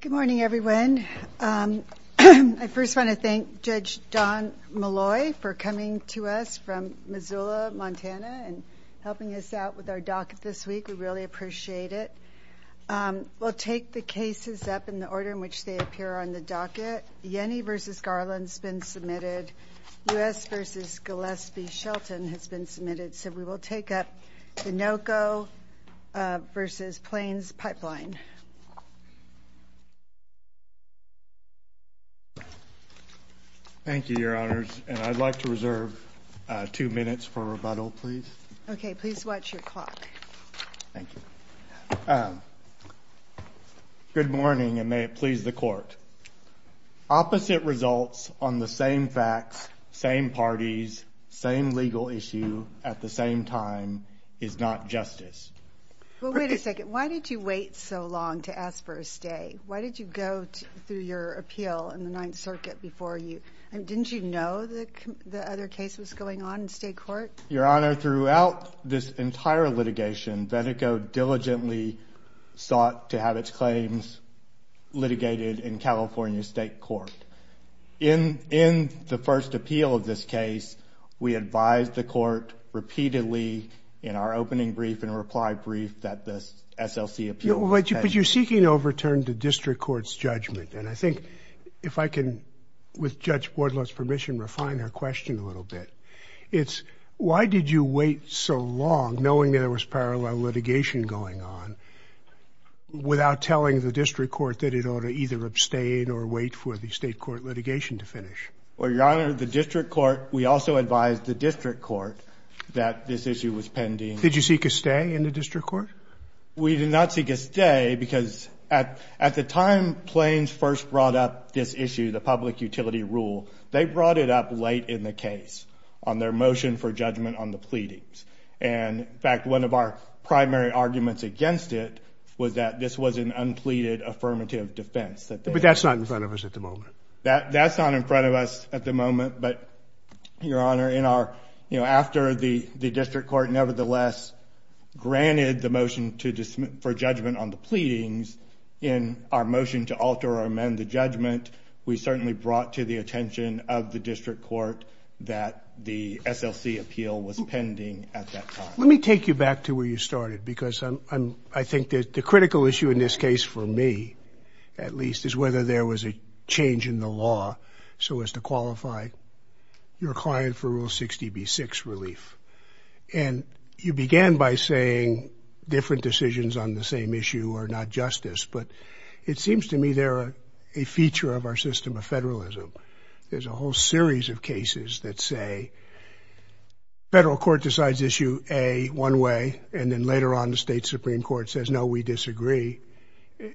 Good morning, everyone. I first want to thank Judge Don Molloy for coming to us from Missoula, Montana and helping us out with our docket this week. We really appreciate it. We'll take the cases up in the order in which they appear on the docket. Yenny v. Garland's been submitted, U.S. v. Gillespie Shelton has been submitted, so we Thank you, Your Honors, and I'd like to reserve two minutes for rebuttal, please. Okay. Please watch your clock. Thank you. Good morning, and may it please the Court. Opposite results on the same facts, same parties, same legal issue at the same time is not justice. Well, wait a second. Why did you wait so long to ask for a stay? Why did you go through your appeal in the Ninth Circuit before you — I mean, didn't you know the other case was going on in state court? Your Honor, throughout this entire litigation, Veneco diligently sought to have its claims litigated in California State Court. In the first appeal of this case, we advised the Court repeatedly in our opening brief and reply brief that the SLC appeal — But you're seeking to overturn the district court's judgment, and I think, if I can, with Judge Bordlow's permission, refine her question a little bit, it's why did you wait so long, knowing there was parallel litigation going on, without telling the district court that it ought to either abstain or wait for the state court litigation to finish? Well, Your Honor, the district court — we also advised the district court that this issue was pending. Did you seek a stay in the district court? We did not seek a stay, because at the time Plains first brought up this issue, the public utility rule, they brought it up late in the case on their motion for judgment on the pleadings. And in fact, one of our primary arguments against it was that this was an unpleaded affirmative defense. But that's not in front of us at the moment. That's not in front of us at the moment, but, Your Honor, in our — you know, after the district court nevertheless granted the motion for judgment on the pleadings, in our motion to alter or amend the judgment, we certainly brought to the attention of the district court that the SLC appeal was pending at that time. Let me take you back to where you started, because I'm — I think that the critical issue in this case, for me at least, is whether there was a change in the law so as to qualify your client for Rule 60b-6 relief. And you began by saying different decisions on the same issue are not justice. But it seems to me they're a feature of our system of federalism. There's a whole series of cases that say federal court decides issue A one way, and then later on the state Supreme Court says, no, we disagree.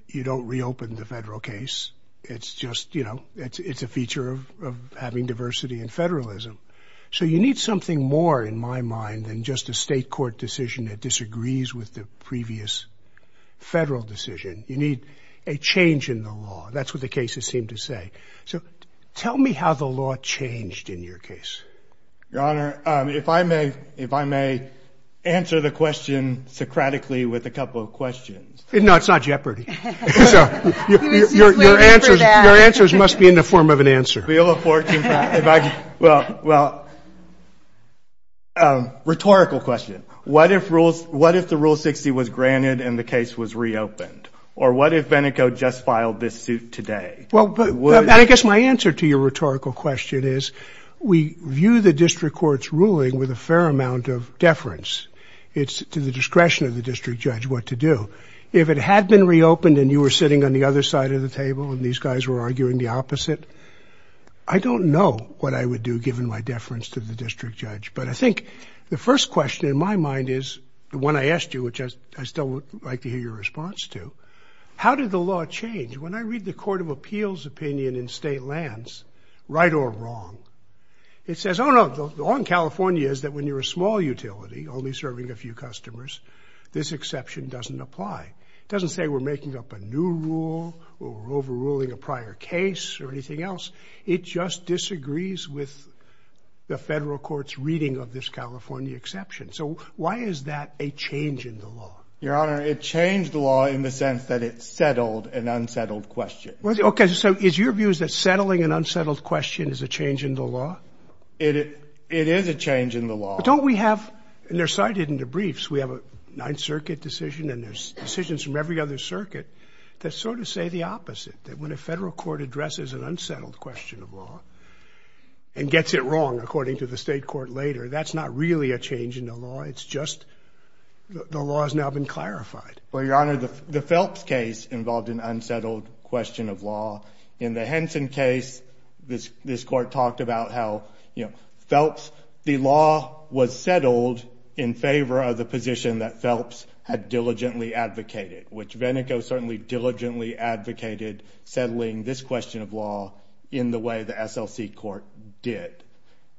You don't reopen the federal case. It's just — you know, it's a feature of having diversity and federalism. So you need something more, in my mind, than just a state court decision that disagrees with the previous federal decision. You need a change in the law. That's what the cases seem to say. So tell me how the law changed in your case. Your Honor, if I may — if I may answer the question Socratically with a couple of questions. No, it's not Jeopardy. Your answers must be in the form of an answer. Well, rhetorical question. What if the Rule 60 was granted and the case was reopened? Or what if Beneco just filed this suit today? I guess my answer to your rhetorical question is we view the district court's ruling with a fair amount of deference. It's to the discretion of the district judge what to do. If it had been reopened and you were sitting on the other side of the table and these guys were arguing the opposite, I don't know what I would do, given my deference to the district judge. But I think the first question in my mind is — the one I asked you, which I still would like to hear your response to — how did the law change? When I read the Court of Appeals opinion in state lands, right or wrong, it says, oh, no, the law in California is that when you're a small utility, only serving a few customers, this exception doesn't apply. It doesn't say we're making up a new rule or overruling a prior case or anything else. It just disagrees with the federal court's reading of this California exception. So why is that a change in the law? Your Honor, it changed the law in the sense that it settled an unsettled question. Okay, so is your view that settling an unsettled question is a change in the law? It is a change in the law. But don't we have — and they're cited in the briefs — we have a Ninth Circuit decision and there's decisions from every other circuit that sort of say the opposite, that when a federal court addresses an unsettled question of law and gets it wrong, according to the state court later, that's not really a change in the law, it's just the law has now been clarified. Well, Your Honor, the Phelps case involved an unsettled question of law. In the Henson case, this court talked about how, you know, Phelps — the law was settled in favor of the position that Phelps had diligently advocated, which Venneco certainly diligently advocated settling this question of law in the way the SLC court did.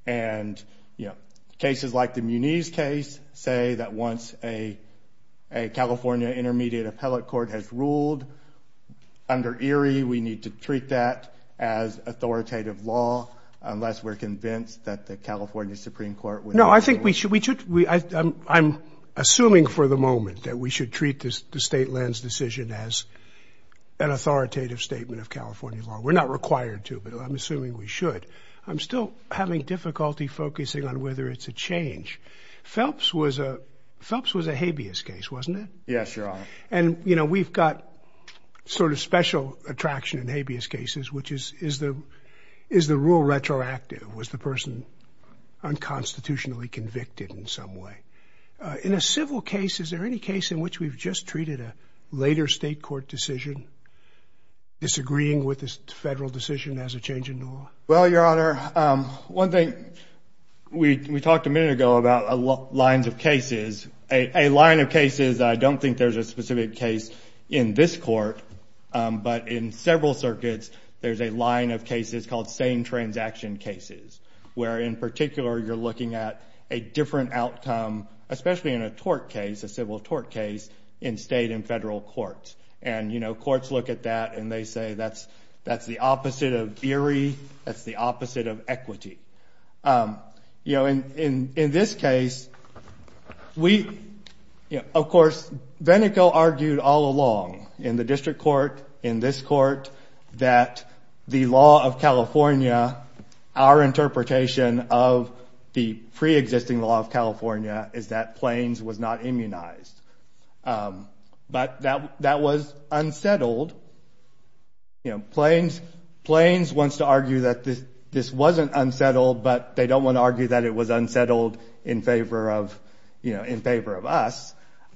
And you know, cases like the Muniz case say that once a California intermediate appellate court has ruled under Erie, we need to treat that as authoritative law, unless we're convinced that the California Supreme Court would — No, I think we should — I'm assuming for the moment that we should treat the state lens decision as an authoritative statement of California law. We're not required to, but I'm assuming we should. I'm still having difficulty focusing on whether it's a change. Phelps was a habeas case, wasn't it? Yes, Your Honor. And you know, we've got sort of special attraction in habeas cases, which is, is the rule retroactive? Was the person unconstitutionally convicted in some way? In a civil case, is there any case in which we've just treated a later state court decision, disagreeing with this federal decision as a change in law? Well, Your Honor, one thing — we talked a minute ago about lines of cases. A line of cases — I don't think there's a specific case in this court, but in several circuits there's a line of cases called same-transaction cases, where in particular you're looking at a different outcome, especially in a tort case, a civil tort case, in state and federal courts. And, you know, courts look at that and they say that's the opposite of Erie, that's the opposite of equity. You know, in this case, we — of course, Venico argued all along in the district court, in this court, that the law of California, our interpretation of the preexisting law of California is that Plains was not immunized. But that was unsettled. You know, Plains wants to argue that this wasn't unsettled, but they don't want to argue that it was unsettled in favor of — you know, in favor of us.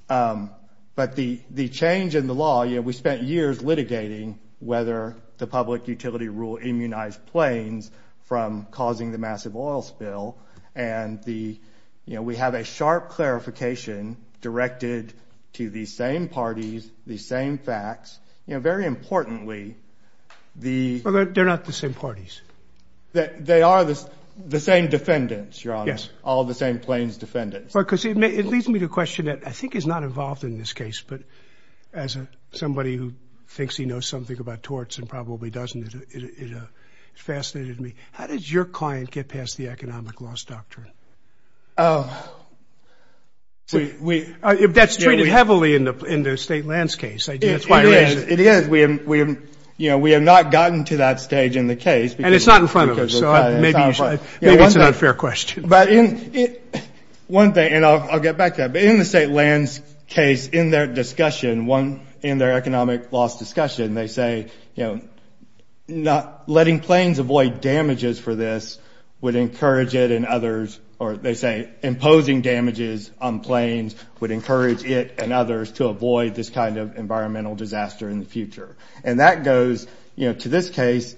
But the change in the law — you know, we spent years litigating whether the public utility rule immunized Plains from causing the massive oil spill, and the — you know, we have a sharp clarification directed to these same parties, these same facts. You know, very importantly, the — But they're not the same parties. They are the same defendants, Your Honor. Yes. All the same Plains defendants. Right. Because it leads me to a question that I think is not involved in this case, but as somebody who thinks he knows something about torts and probably doesn't, it fascinated me. How did your client get past the economic loss doctrine? Oh. We — That's treated heavily in the — in the State lands case, I guess. It is. It is. We have — you know, we have not gotten to that stage in the case. And it's not in front of us, so maybe you should — maybe it's an unfair question. But in — one thing — and I'll get back to that. But in the State lands case, in their discussion, one — in their economic loss discussion, they say, you know, not — letting Plains avoid damages for this would encourage it and others — or they say imposing damages on Plains would encourage it and others to avoid this kind of environmental disaster in the future. And that goes, you know, to this case.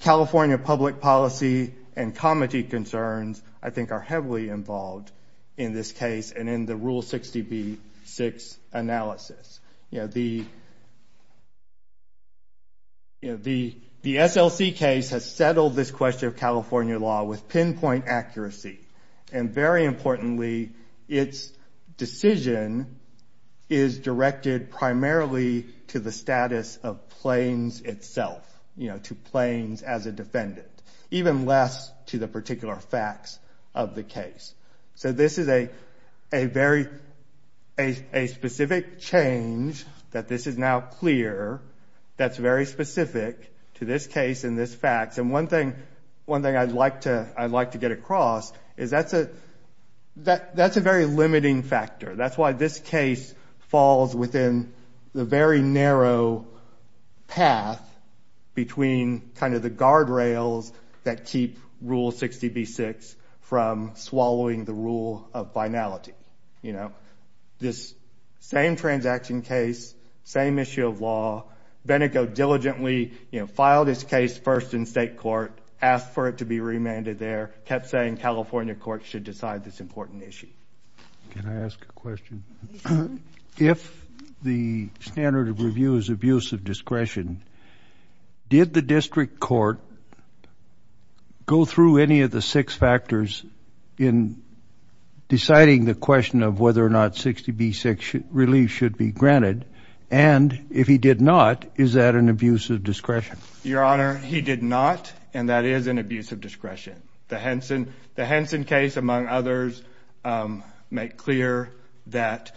California public policy and comity concerns, I think, are heavily involved in this case and in the Rule 60B-6 analysis. You know, the — you know, the SLC case has settled this question of California law with pinpoint accuracy. And very importantly, its decision is directed primarily to the status of Plains itself, you know, to Plains as a defendant, even less to the particular facts of the case. So this is a very — a specific change that this is now clear that's very specific to this case and this fact. And one thing — one thing I'd like to — I'd like to get across is that's a — that's a very limiting factor. That's why this case falls within the very narrow path between kind of the guardrails that keep Rule 60B-6 from swallowing the rule of finality. You know, this same transaction case, same issue of law, Benneko diligently, you know, filed his case first in state court, asked for it to be remanded there, kept saying California courts should decide this important issue. Can I ask a question? If the standard of review is abuse of discretion, did the district court go through any of the six factors in deciding the question of whether or not 60B-6 relief should be granted? And if he did not, is that an abuse of discretion? Your Honor, he did not, and that is an abuse of discretion. The Henson case, among others, made clear that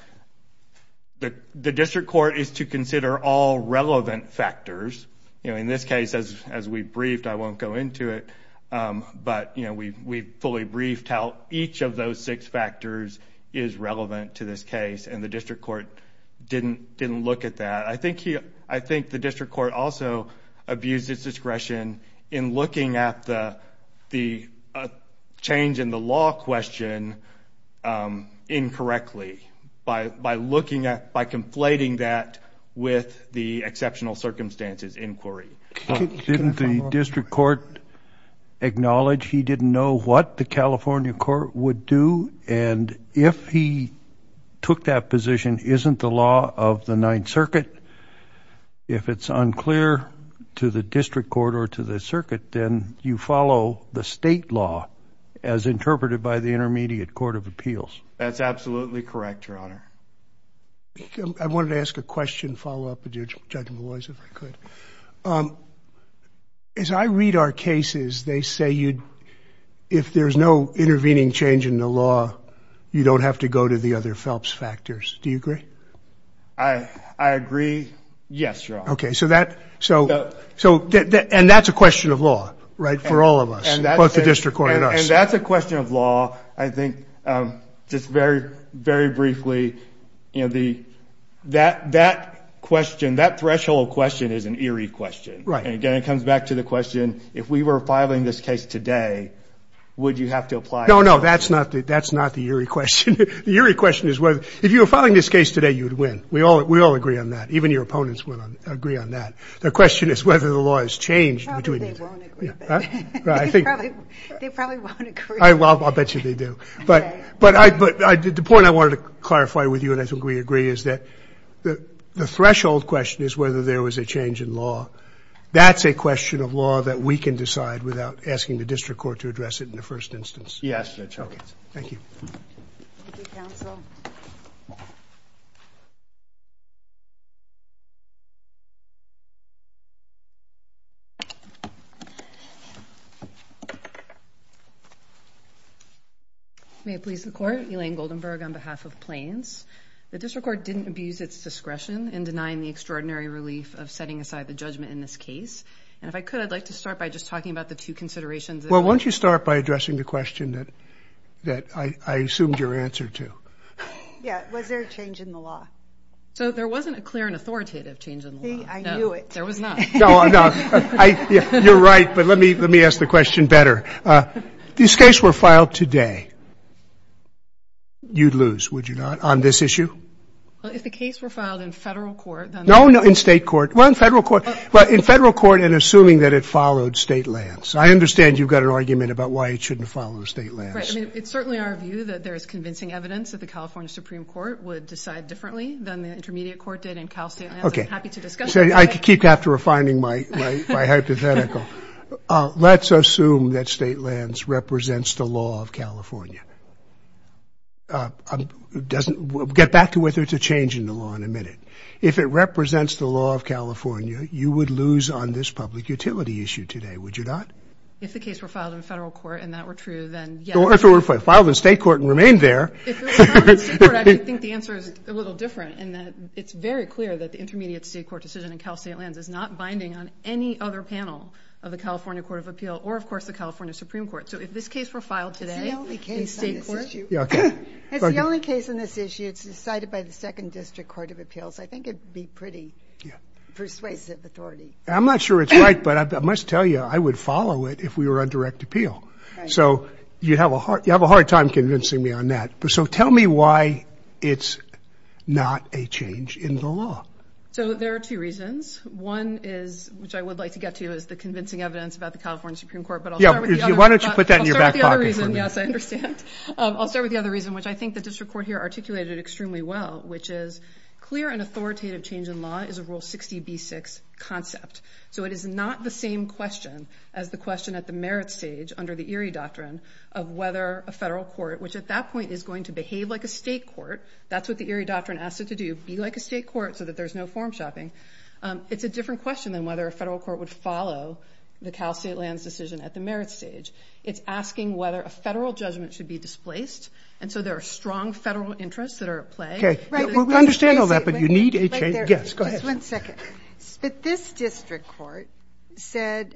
the district court is to consider all relevant factors. You know, in this case, as we briefed, I won't go into it, but, you know, we fully briefed how each of those six factors is relevant to this case, and the district court didn't look at that. I think the district court also abused its discretion in looking at the change in the law question incorrectly, by looking at, by conflating that with the exceptional circumstances inquiry. Didn't the district court acknowledge he didn't know what the California court would do? And if he took that position, isn't the law of the Ninth Circuit, if it's unclear to the district court or to the circuit, then you follow the state law as interpreted by the Intermediate Court of Appeals? That's absolutely correct, Your Honor. I wanted to ask a question, follow up with Judge Maloy's, if I could. As I read our cases, they say if there's no intervening change in the law, you don't have to go to the other Phelps factors. Do you agree? I agree. Yes, Your Honor. Okay, so that, and that's a question of law, right, for all of us, both the district court and us. And that's a question of law, I think, just very, very briefly. That question, that threshold question is an eerie question. Right. And again, it comes back to the question, if we were filing this case today, would you have to apply? No, no, that's not the eerie question. The eerie question is, if you were filing this case today, you would win. We all agree on that. Even your opponents would agree on that. The question is whether the law has changed. Probably they won't agree. They probably won't agree. I'll bet you they do. But the point I wanted to clarify with you, and I think we agree, is that the threshold question is whether there was a change in law. That's a question of law that we can decide without asking the district court to address it in the first instance. Yes, Your Honor. Thank you. Thank you, counsel. May it please the Court. Elaine Goldenberg on behalf of Plains. The district court didn't abuse its discretion in denying the extraordinary relief of setting aside the judgment in this case. And if I could, I'd like to start by just talking about the two considerations. Well, why don't you start by addressing the question that I assumed your answer to. Yeah, was there a change in the law? So there wasn't a clear and authoritative change in the law. I knew it. No, there was not. You're right, but let me ask the question better. This case were filed today. You'd lose, would you not, on this issue? Well, if the case were filed in federal court, then the – No, no, in state court. Well, in federal court. Well, in federal court and assuming that it followed state lands. I understand you've got an argument about why it shouldn't follow state lands. Right. I mean, it's certainly our view that there is convincing evidence that the California Supreme Court would decide differently than the intermediate court did in Cal state lands. Okay. I'm happy to discuss that. I keep after refining my hypothetical. Let's assume that state lands represents the law of California. It doesn't – get back to whether it's a change in the law in a minute. If it represents the law of California, you would lose on this public utility issue today, would you not? If the case were filed in federal court and that were true, then yes. If it were filed in state court and remained there. If it were filed in state court, I think the answer is a little different in that it's very clear that the intermediate state court decision in Cal state lands is not binding on any other panel of the California Court of Appeal or, of course, the California Supreme Court. So if this case were filed today in state court. It's the only case on this issue. Okay. It's the only case on this issue. It's decided by the Second District Court of Appeals. I think it would be pretty persuasive authority. I'm not sure it's right, but I must tell you I would follow it if we were on direct appeal. So you'd have a hard time convincing me on that. So tell me why it's not a change in the law. So there are two reasons. One is, which I would like to get to, is the convincing evidence about the California Supreme Court. But I'll start with the other reason. Why don't you put that in your back pocket for me? Yes, I understand. I'll start with the other reason, which I think the district court here articulated extremely well, which is clear and authoritative change in law is a Rule 60b-6 concept. So it is not the same question as the question at the merit stage under the Erie Doctrine of whether a federal court, which at that point is going to behave like a state court. That's what the Erie Doctrine asks it to do, be like a state court so that there's no form shopping. It's a different question than whether a federal court would follow the Cal State lands decision at the merit stage. It's asking whether a federal judgment should be displaced. And so there are strong federal interests that are at play. Okay. We understand all that, but you need a change. Yes, go ahead. Just one second. But this district court said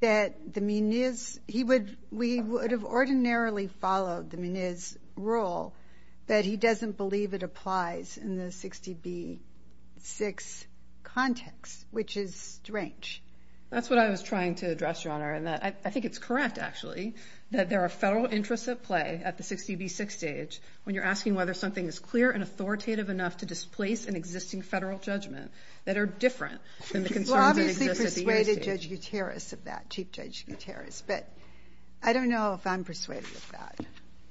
that the Muniz, he would, we would have ordinarily followed the Muniz Rule, but he doesn't believe it applies in the 60b-6 context, which is strange. That's what I was trying to address, Your Honor. And I think it's correct, actually, that there are federal interests at play at the 60b-6 stage when you're asking whether something is clear and authoritative enough to displace an existing federal judgment that are different than the concerns that exist at the merit stage. Well, obviously persuaded Judge Gutierrez of that, Chief Judge Gutierrez. But I don't know if I'm persuaded of that.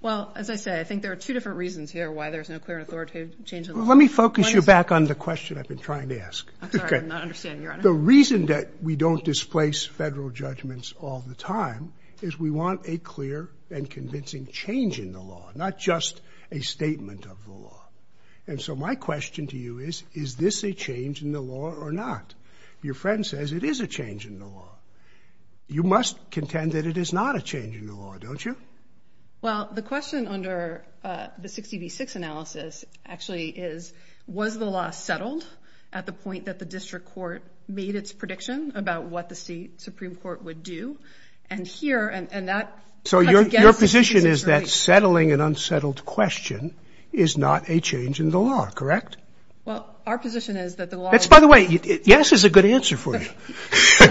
Well, as I say, I think there are two different reasons here why there's no clear and authoritative change in the law. Let me focus you back on the question I've been trying to ask. I'm sorry, I'm not understanding, Your Honor. The reason that we don't displace federal judgments all the time is we want a clear and convincing change in the law, not just a statement of the law. And so my question to you is, is this a change in the law or not? Your friend says it is a change in the law. You must contend that it is not a change in the law, don't you? Well, the question under the 60 v. 6 analysis actually is, was the law settled at the point that the district court made its prediction about what the Supreme Court would do? And here, and that cuts against the district court. So your position is that settling an unsettled question is not a change in the law, correct? Well, our position is that the law is not a change in the law. By the way, yes is a good answer for you.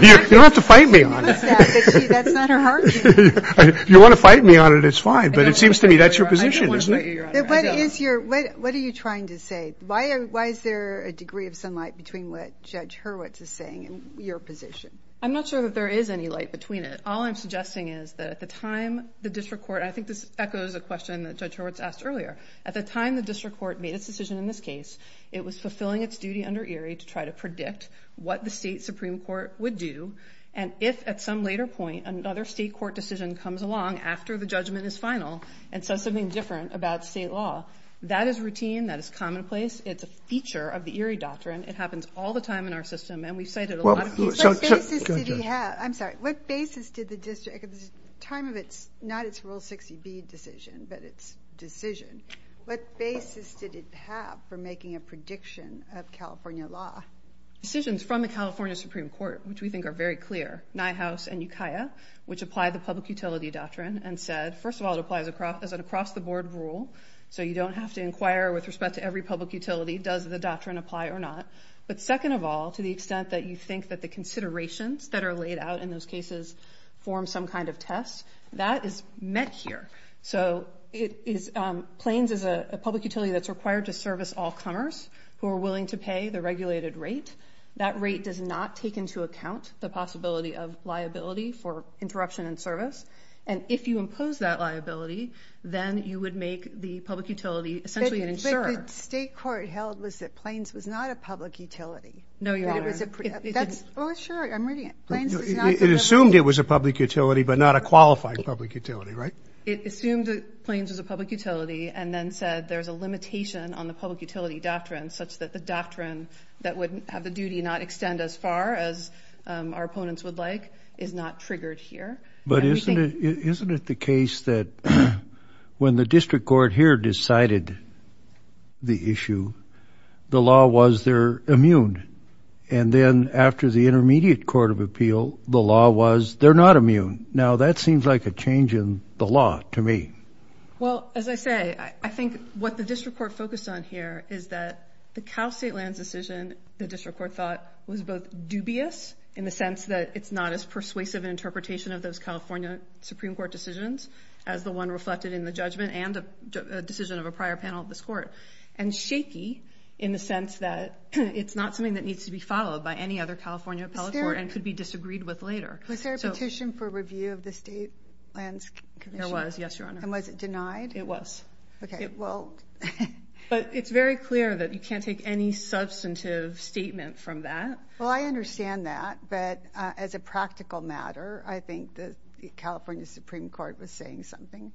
You don't have to fight me on it. That's not her argument. If you want to fight me on it, it's fine. But it seems to me that's your position, isn't it? What are you trying to say? Why is there a degree of sunlight between what Judge Hurwitz is saying and your position? I'm not sure that there is any light between it. All I'm suggesting is that at the time the district court, and I think this echoes a question that Judge Hurwitz asked earlier, at the time the district court made its decision in this case, it was fulfilling its duty under Erie to try to predict what the state Supreme Court would do. And if at some later point another state court decision comes along after the judgment is final and says something different about state law, that is routine. That is commonplace. It's a feature of the Erie doctrine. It happens all the time in our system, and we've cited a lot of cases. What basis did it have? I'm sorry. What basis did the district, at the time of its, not its Rule 60B decision, but its decision, what basis did it have for making a prediction of California law? Decisions from the California Supreme Court, which we think are very clear, Nye House and Ukiah, which apply the public utility doctrine and said, first of all, it applies as an across-the-board rule, so you don't have to inquire with respect to every public utility, does the doctrine apply or not. But second of all, to the extent that you think that the considerations that are laid out in those cases form some kind of test, that is met here. So it is, Plains is a public utility that's required to service all comers who are willing to pay the regulated rate. That rate does not take into account the possibility of liability for interruption in service. And if you impose that liability, then you would make the public utility essentially an insurer. But the state court held was that Plains was not a public utility. No, Your Honor. Oh, sure, I'm reading it. It assumed it was a public utility but not a qualified public utility, right? It assumed that Plains was a public utility and then said there's a limitation on the public utility doctrine such that the doctrine that would have the duty not extend as far as our opponents would like is not triggered here. But isn't it the case that when the district court here decided the issue, the law was they're immune. And then after the intermediate court of appeal, the law was they're not immune. Now, that seems like a change in the law to me. Well, as I say, I think what the district court focused on here is that the Cal State lands decision, the district court thought was both dubious in the sense that it's not as persuasive an interpretation of those California Supreme Court decisions as the one reflected in the judgment and a decision of a prior panel of this court, and shaky in the sense that it's not something that needs to be followed by any other California appellate court and could be disagreed with later. Was there a petition for review of the State Lands Commission? There was, yes, Your Honor. And was it denied? It was. Okay, well. But it's very clear that you can't take any substantive statement from that. Well, I understand that, but as a practical matter, I think the California Supreme Court was saying something.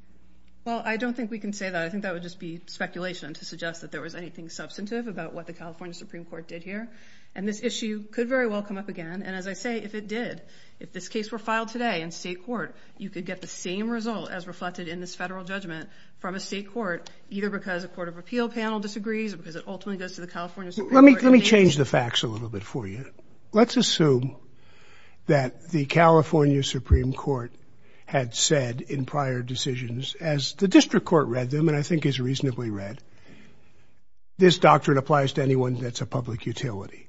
Well, I don't think we can say that. I think that would just be speculation to suggest that there was anything substantive about what the California Supreme Court did here. And this issue could very well come up again. And as I say, if it did, if this case were filed today in state court, you could get the same result as reflected in this federal judgment from a state court, either because a court of appeal panel disagrees or because it ultimately goes to the California Supreme Court. Let me change the facts a little bit for you. Let's assume that the California Supreme Court had said in prior decisions, as the district court read them and I think is reasonably read, this doctrine applies to anyone that's a public utility.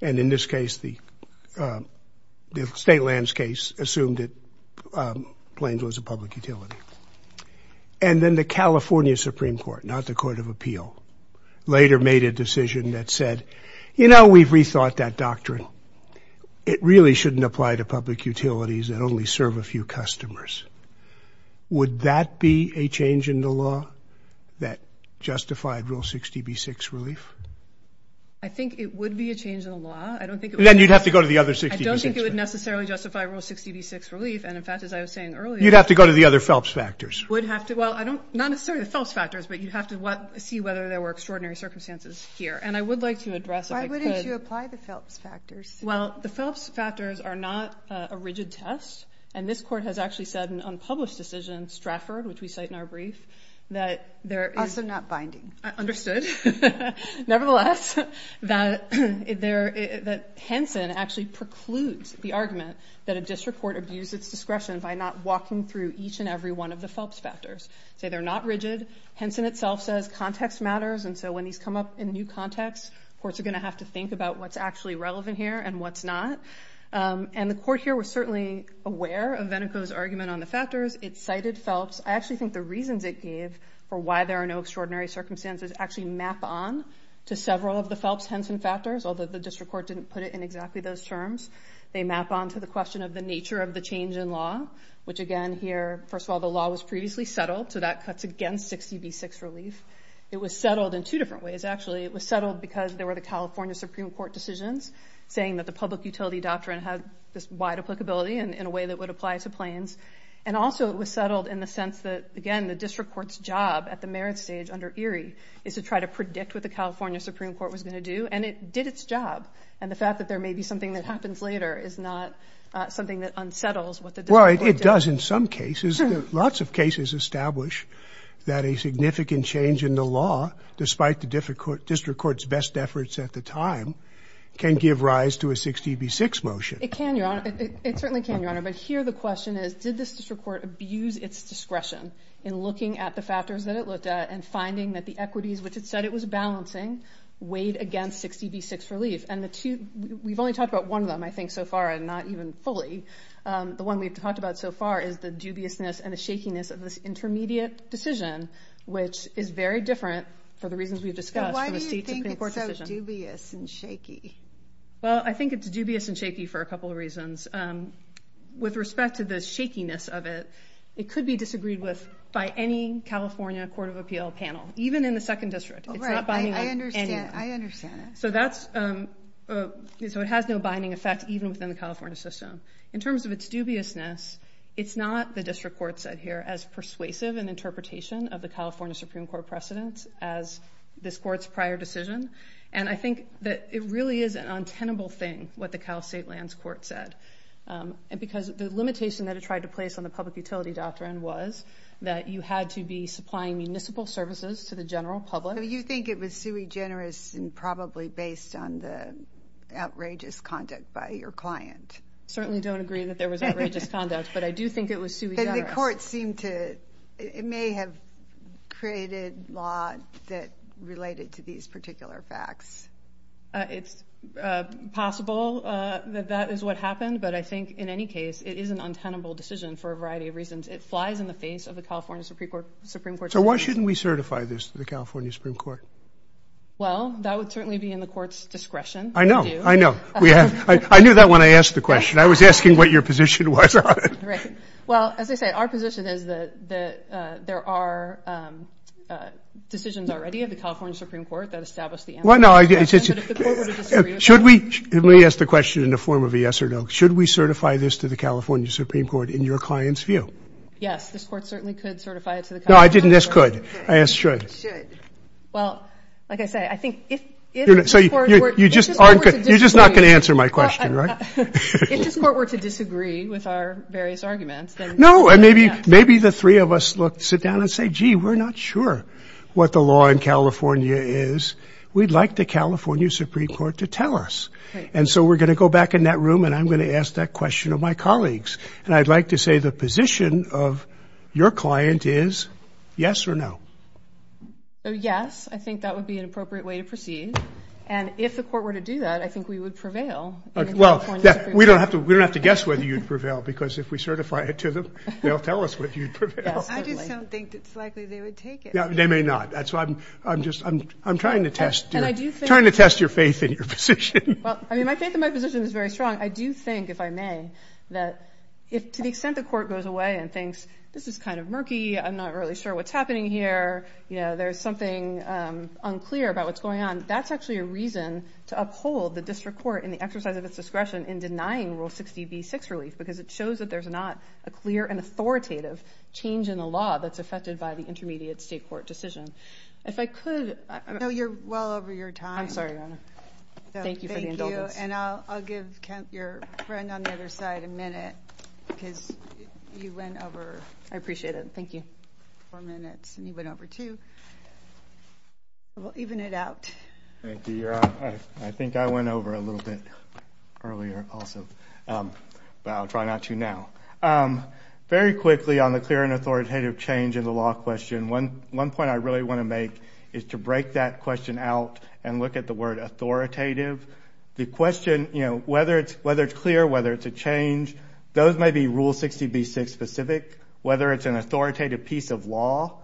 And in this case, the state lands case assumed that Plains was a public utility. And then the California Supreme Court, not the court of appeal, later made a decision that said, you know, we've rethought that doctrine. It really shouldn't apply to public utilities that only serve a few customers. Would that be a change in the law that justified Rule 60B6 relief? I think it would be a change in the law. Then you'd have to go to the other 60B6. I don't think it would necessarily justify Rule 60B6 relief. And in fact, as I was saying earlier. You'd have to go to the other Phelps factors. Well, not necessarily the Phelps factors, but you'd have to see whether there were extraordinary circumstances here. And I would like to address if I could. Why wouldn't you apply the Phelps factors? Well, the Phelps factors are not a rigid test. And this court has actually said in an unpublished decision, Stratford, which we cite in our brief, that there is. Also not binding. Understood. Nevertheless, that Henson actually precludes the argument that a district court abused its discretion by not walking through each and every one of the Phelps factors. Say they're not rigid. Henson itself says context matters. And so when these come up in new context, courts are going to have to think about what's actually relevant here and what's not. And the court here was certainly aware of Venico's argument on the factors. It cited Phelps. I actually think the reasons it gave for why there are no extraordinary circumstances actually map on to several of the Phelps-Henson factors, although the district court didn't put it in exactly those terms. They map on to the question of the nature of the change in law, which again here, first of all, the law was previously settled, so that cuts against 60B6 relief. It was settled in two different ways, actually. It was settled because there were the California Supreme Court decisions saying that the public utility doctrine had this wide applicability in a way that would apply to Plains. And also it was settled in the sense that, again, the district court's job at the merit stage under Erie is to try to predict what the California Supreme Court was going to do, and it did its job. And the fact that there may be something that happens later is not something that unsettles what the district court did. Well, it does in some cases. Lots of cases establish that a significant change in the law, despite the district court's best efforts at the time, can give rise to a 60B6 motion. It can, Your Honor. It certainly can, Your Honor. But here the question is, did the district court abuse its discretion in looking at the factors that it looked at and finding that the equities which it said it was balancing weighed against 60B6 relief? And we've only talked about one of them, I think, so far, and not even fully. The one we've talked about so far is the dubiousness and the shakiness of this intermediate decision, which is very different for the reasons we've discussed. Why do you think it's so dubious and shaky? Well, I think it's dubious and shaky for a couple of reasons. With respect to the shakiness of it, it could be disagreed with by any California Court of Appeal panel, even in the 2nd District. It's not binding on anyone. I understand. I understand. So it has no binding effect even within the California system. In terms of its dubiousness, it's not, the district court said here, as persuasive an interpretation of the California Supreme Court precedents as this court's prior decision. And I think that it really is an untenable thing, what the Cal State Lands Court said. And because the limitation that it tried to place on the public utility doctrine was that you had to be supplying municipal services to the general public. So you think it was sui generis and probably based on the outrageous conduct by your client? Certainly don't agree that there was outrageous conduct, but I do think it was sui generis. And the court seemed to, it may have created law that related to these particular facts. It's possible that that is what happened, but I think in any case, it is an untenable decision for a variety of reasons. It flies in the face of the California Supreme Court. So why shouldn't we certify this to the California Supreme Court? Well, that would certainly be in the court's discretion. I know. I know. I knew that when I asked the question. I was asking what your position was on it. Right. Well, as I said, our position is that there are decisions already of the California Supreme Court that establish the answer. Well, no. Should we ask the question in the form of a yes or no? Should we certify this to the California Supreme Court in your client's view? Yes. This court certainly could certify it to the California Supreme Court. No, I didn't ask could. I asked should. Should. Well, like I say, I think if this court were to disagree. You're just not going to answer my question, right? If this court were to disagree with our various arguments, then yes. No. And maybe the three of us sit down and say, gee, we're not sure what the law in California is. We'd like the California Supreme Court to tell us. And so we're going to go back in that room and I'm going to ask that question of my colleagues. And I'd like to say the position of your client is yes or no. Yes. I think that would be an appropriate way to proceed. And if the court were to do that, I think we would prevail. Well, we don't have to guess whether you'd prevail because if we certify it to them, they'll tell us whether you'd prevail. I just don't think it's likely they would take it. They may not. I'm trying to test your faith in your position. My faith in my position is very strong. I do think, if I may, that to the extent the court goes away and thinks, this is kind of murky, I'm not really sure what's happening here, there's something unclear about what's going on, that's actually a reason to uphold the district court in the exercise of its discretion in denying Rule 60b-6 relief because it shows that there's not a clear and authoritative change in the law that's affected by the intermediate state court decision. If I could... No, you're well over your time. I'm sorry, Your Honor. Thank you for the indulgence. Thank you. And I'll give your friend on the other side a minute because you went over... I appreciate it. Thank you. ...four minutes and you went over two. We'll even it out. Thank you, Your Honor. I think I went over a little bit earlier also, but I'll try not to now. Very quickly on the clear and authoritative change in the law question, one point I really want to make is to break that question out and look at the word authoritative. The question, you know, whether it's clear, whether it's a change, those may be Rule 60b-6 specific. Whether it's an authoritative piece of law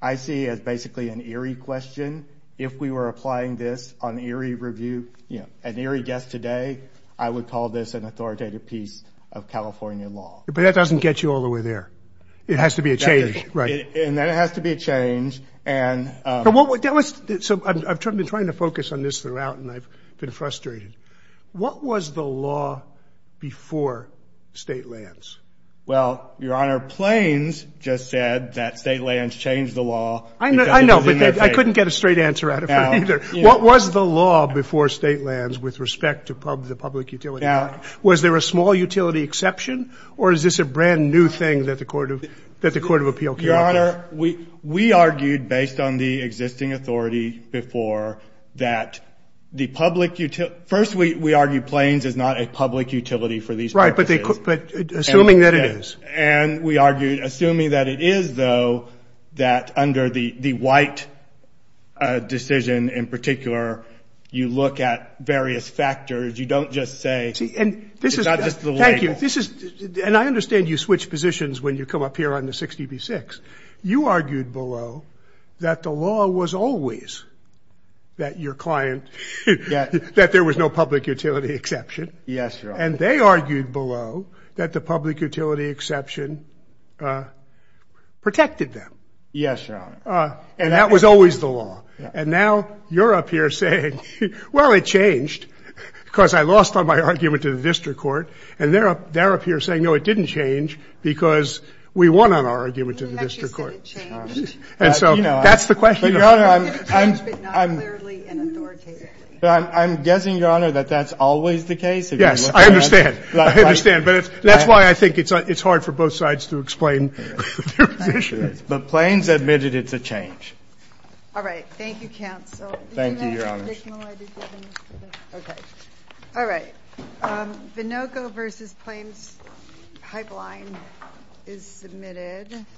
I see as basically an eerie question. If we were applying this on eerie review, you know, an eerie guest today, I would call this an authoritative piece of California law. But that doesn't get you all the way there. It has to be a change, right? And then it has to be a change. So I've been trying to focus on this throughout and I've been frustrated. What was the law before state lands? Well, Your Honor, Plains just said that state lands changed the law. I know, but I couldn't get a straight answer out of him either. What was the law before state lands with respect to the public utility? Was there a small utility exception or is this a brand new thing that the Court of Appeal came up with? Your Honor, we argued based on the existing authority before that the public utility – first we argued Plains is not a public utility for these purposes. Right, but assuming that it is. And we argued assuming that it is, though, that under the white decision in particular, you look at various factors. You don't just say it's not just the label. Thank you. And I understand you switch positions when you come up here on the 60 v. 6. You argued below that the law was always that your client, that there was no public utility exception. Yes, Your Honor. And they argued below that the public utility exception protected them. Yes, Your Honor. And that was always the law. And now you're up here saying, well, it changed because I lost on my argument to the district court. And they're up here saying, no, it didn't change because we won on our argument to the district court. You didn't actually say it changed. And so that's the question. Your Honor, I'm – It changed, but not clearly and authoritatively. I'm guessing, Your Honor, that that's always the case. Yes, I understand. I understand. But that's why I think it's hard for both sides to explain their position. But Plains admitted it's a change. All right. Thank you, counsel. Thank you, Your Honor. Okay. All right. Vinoco v. Plains pipeline is submitted.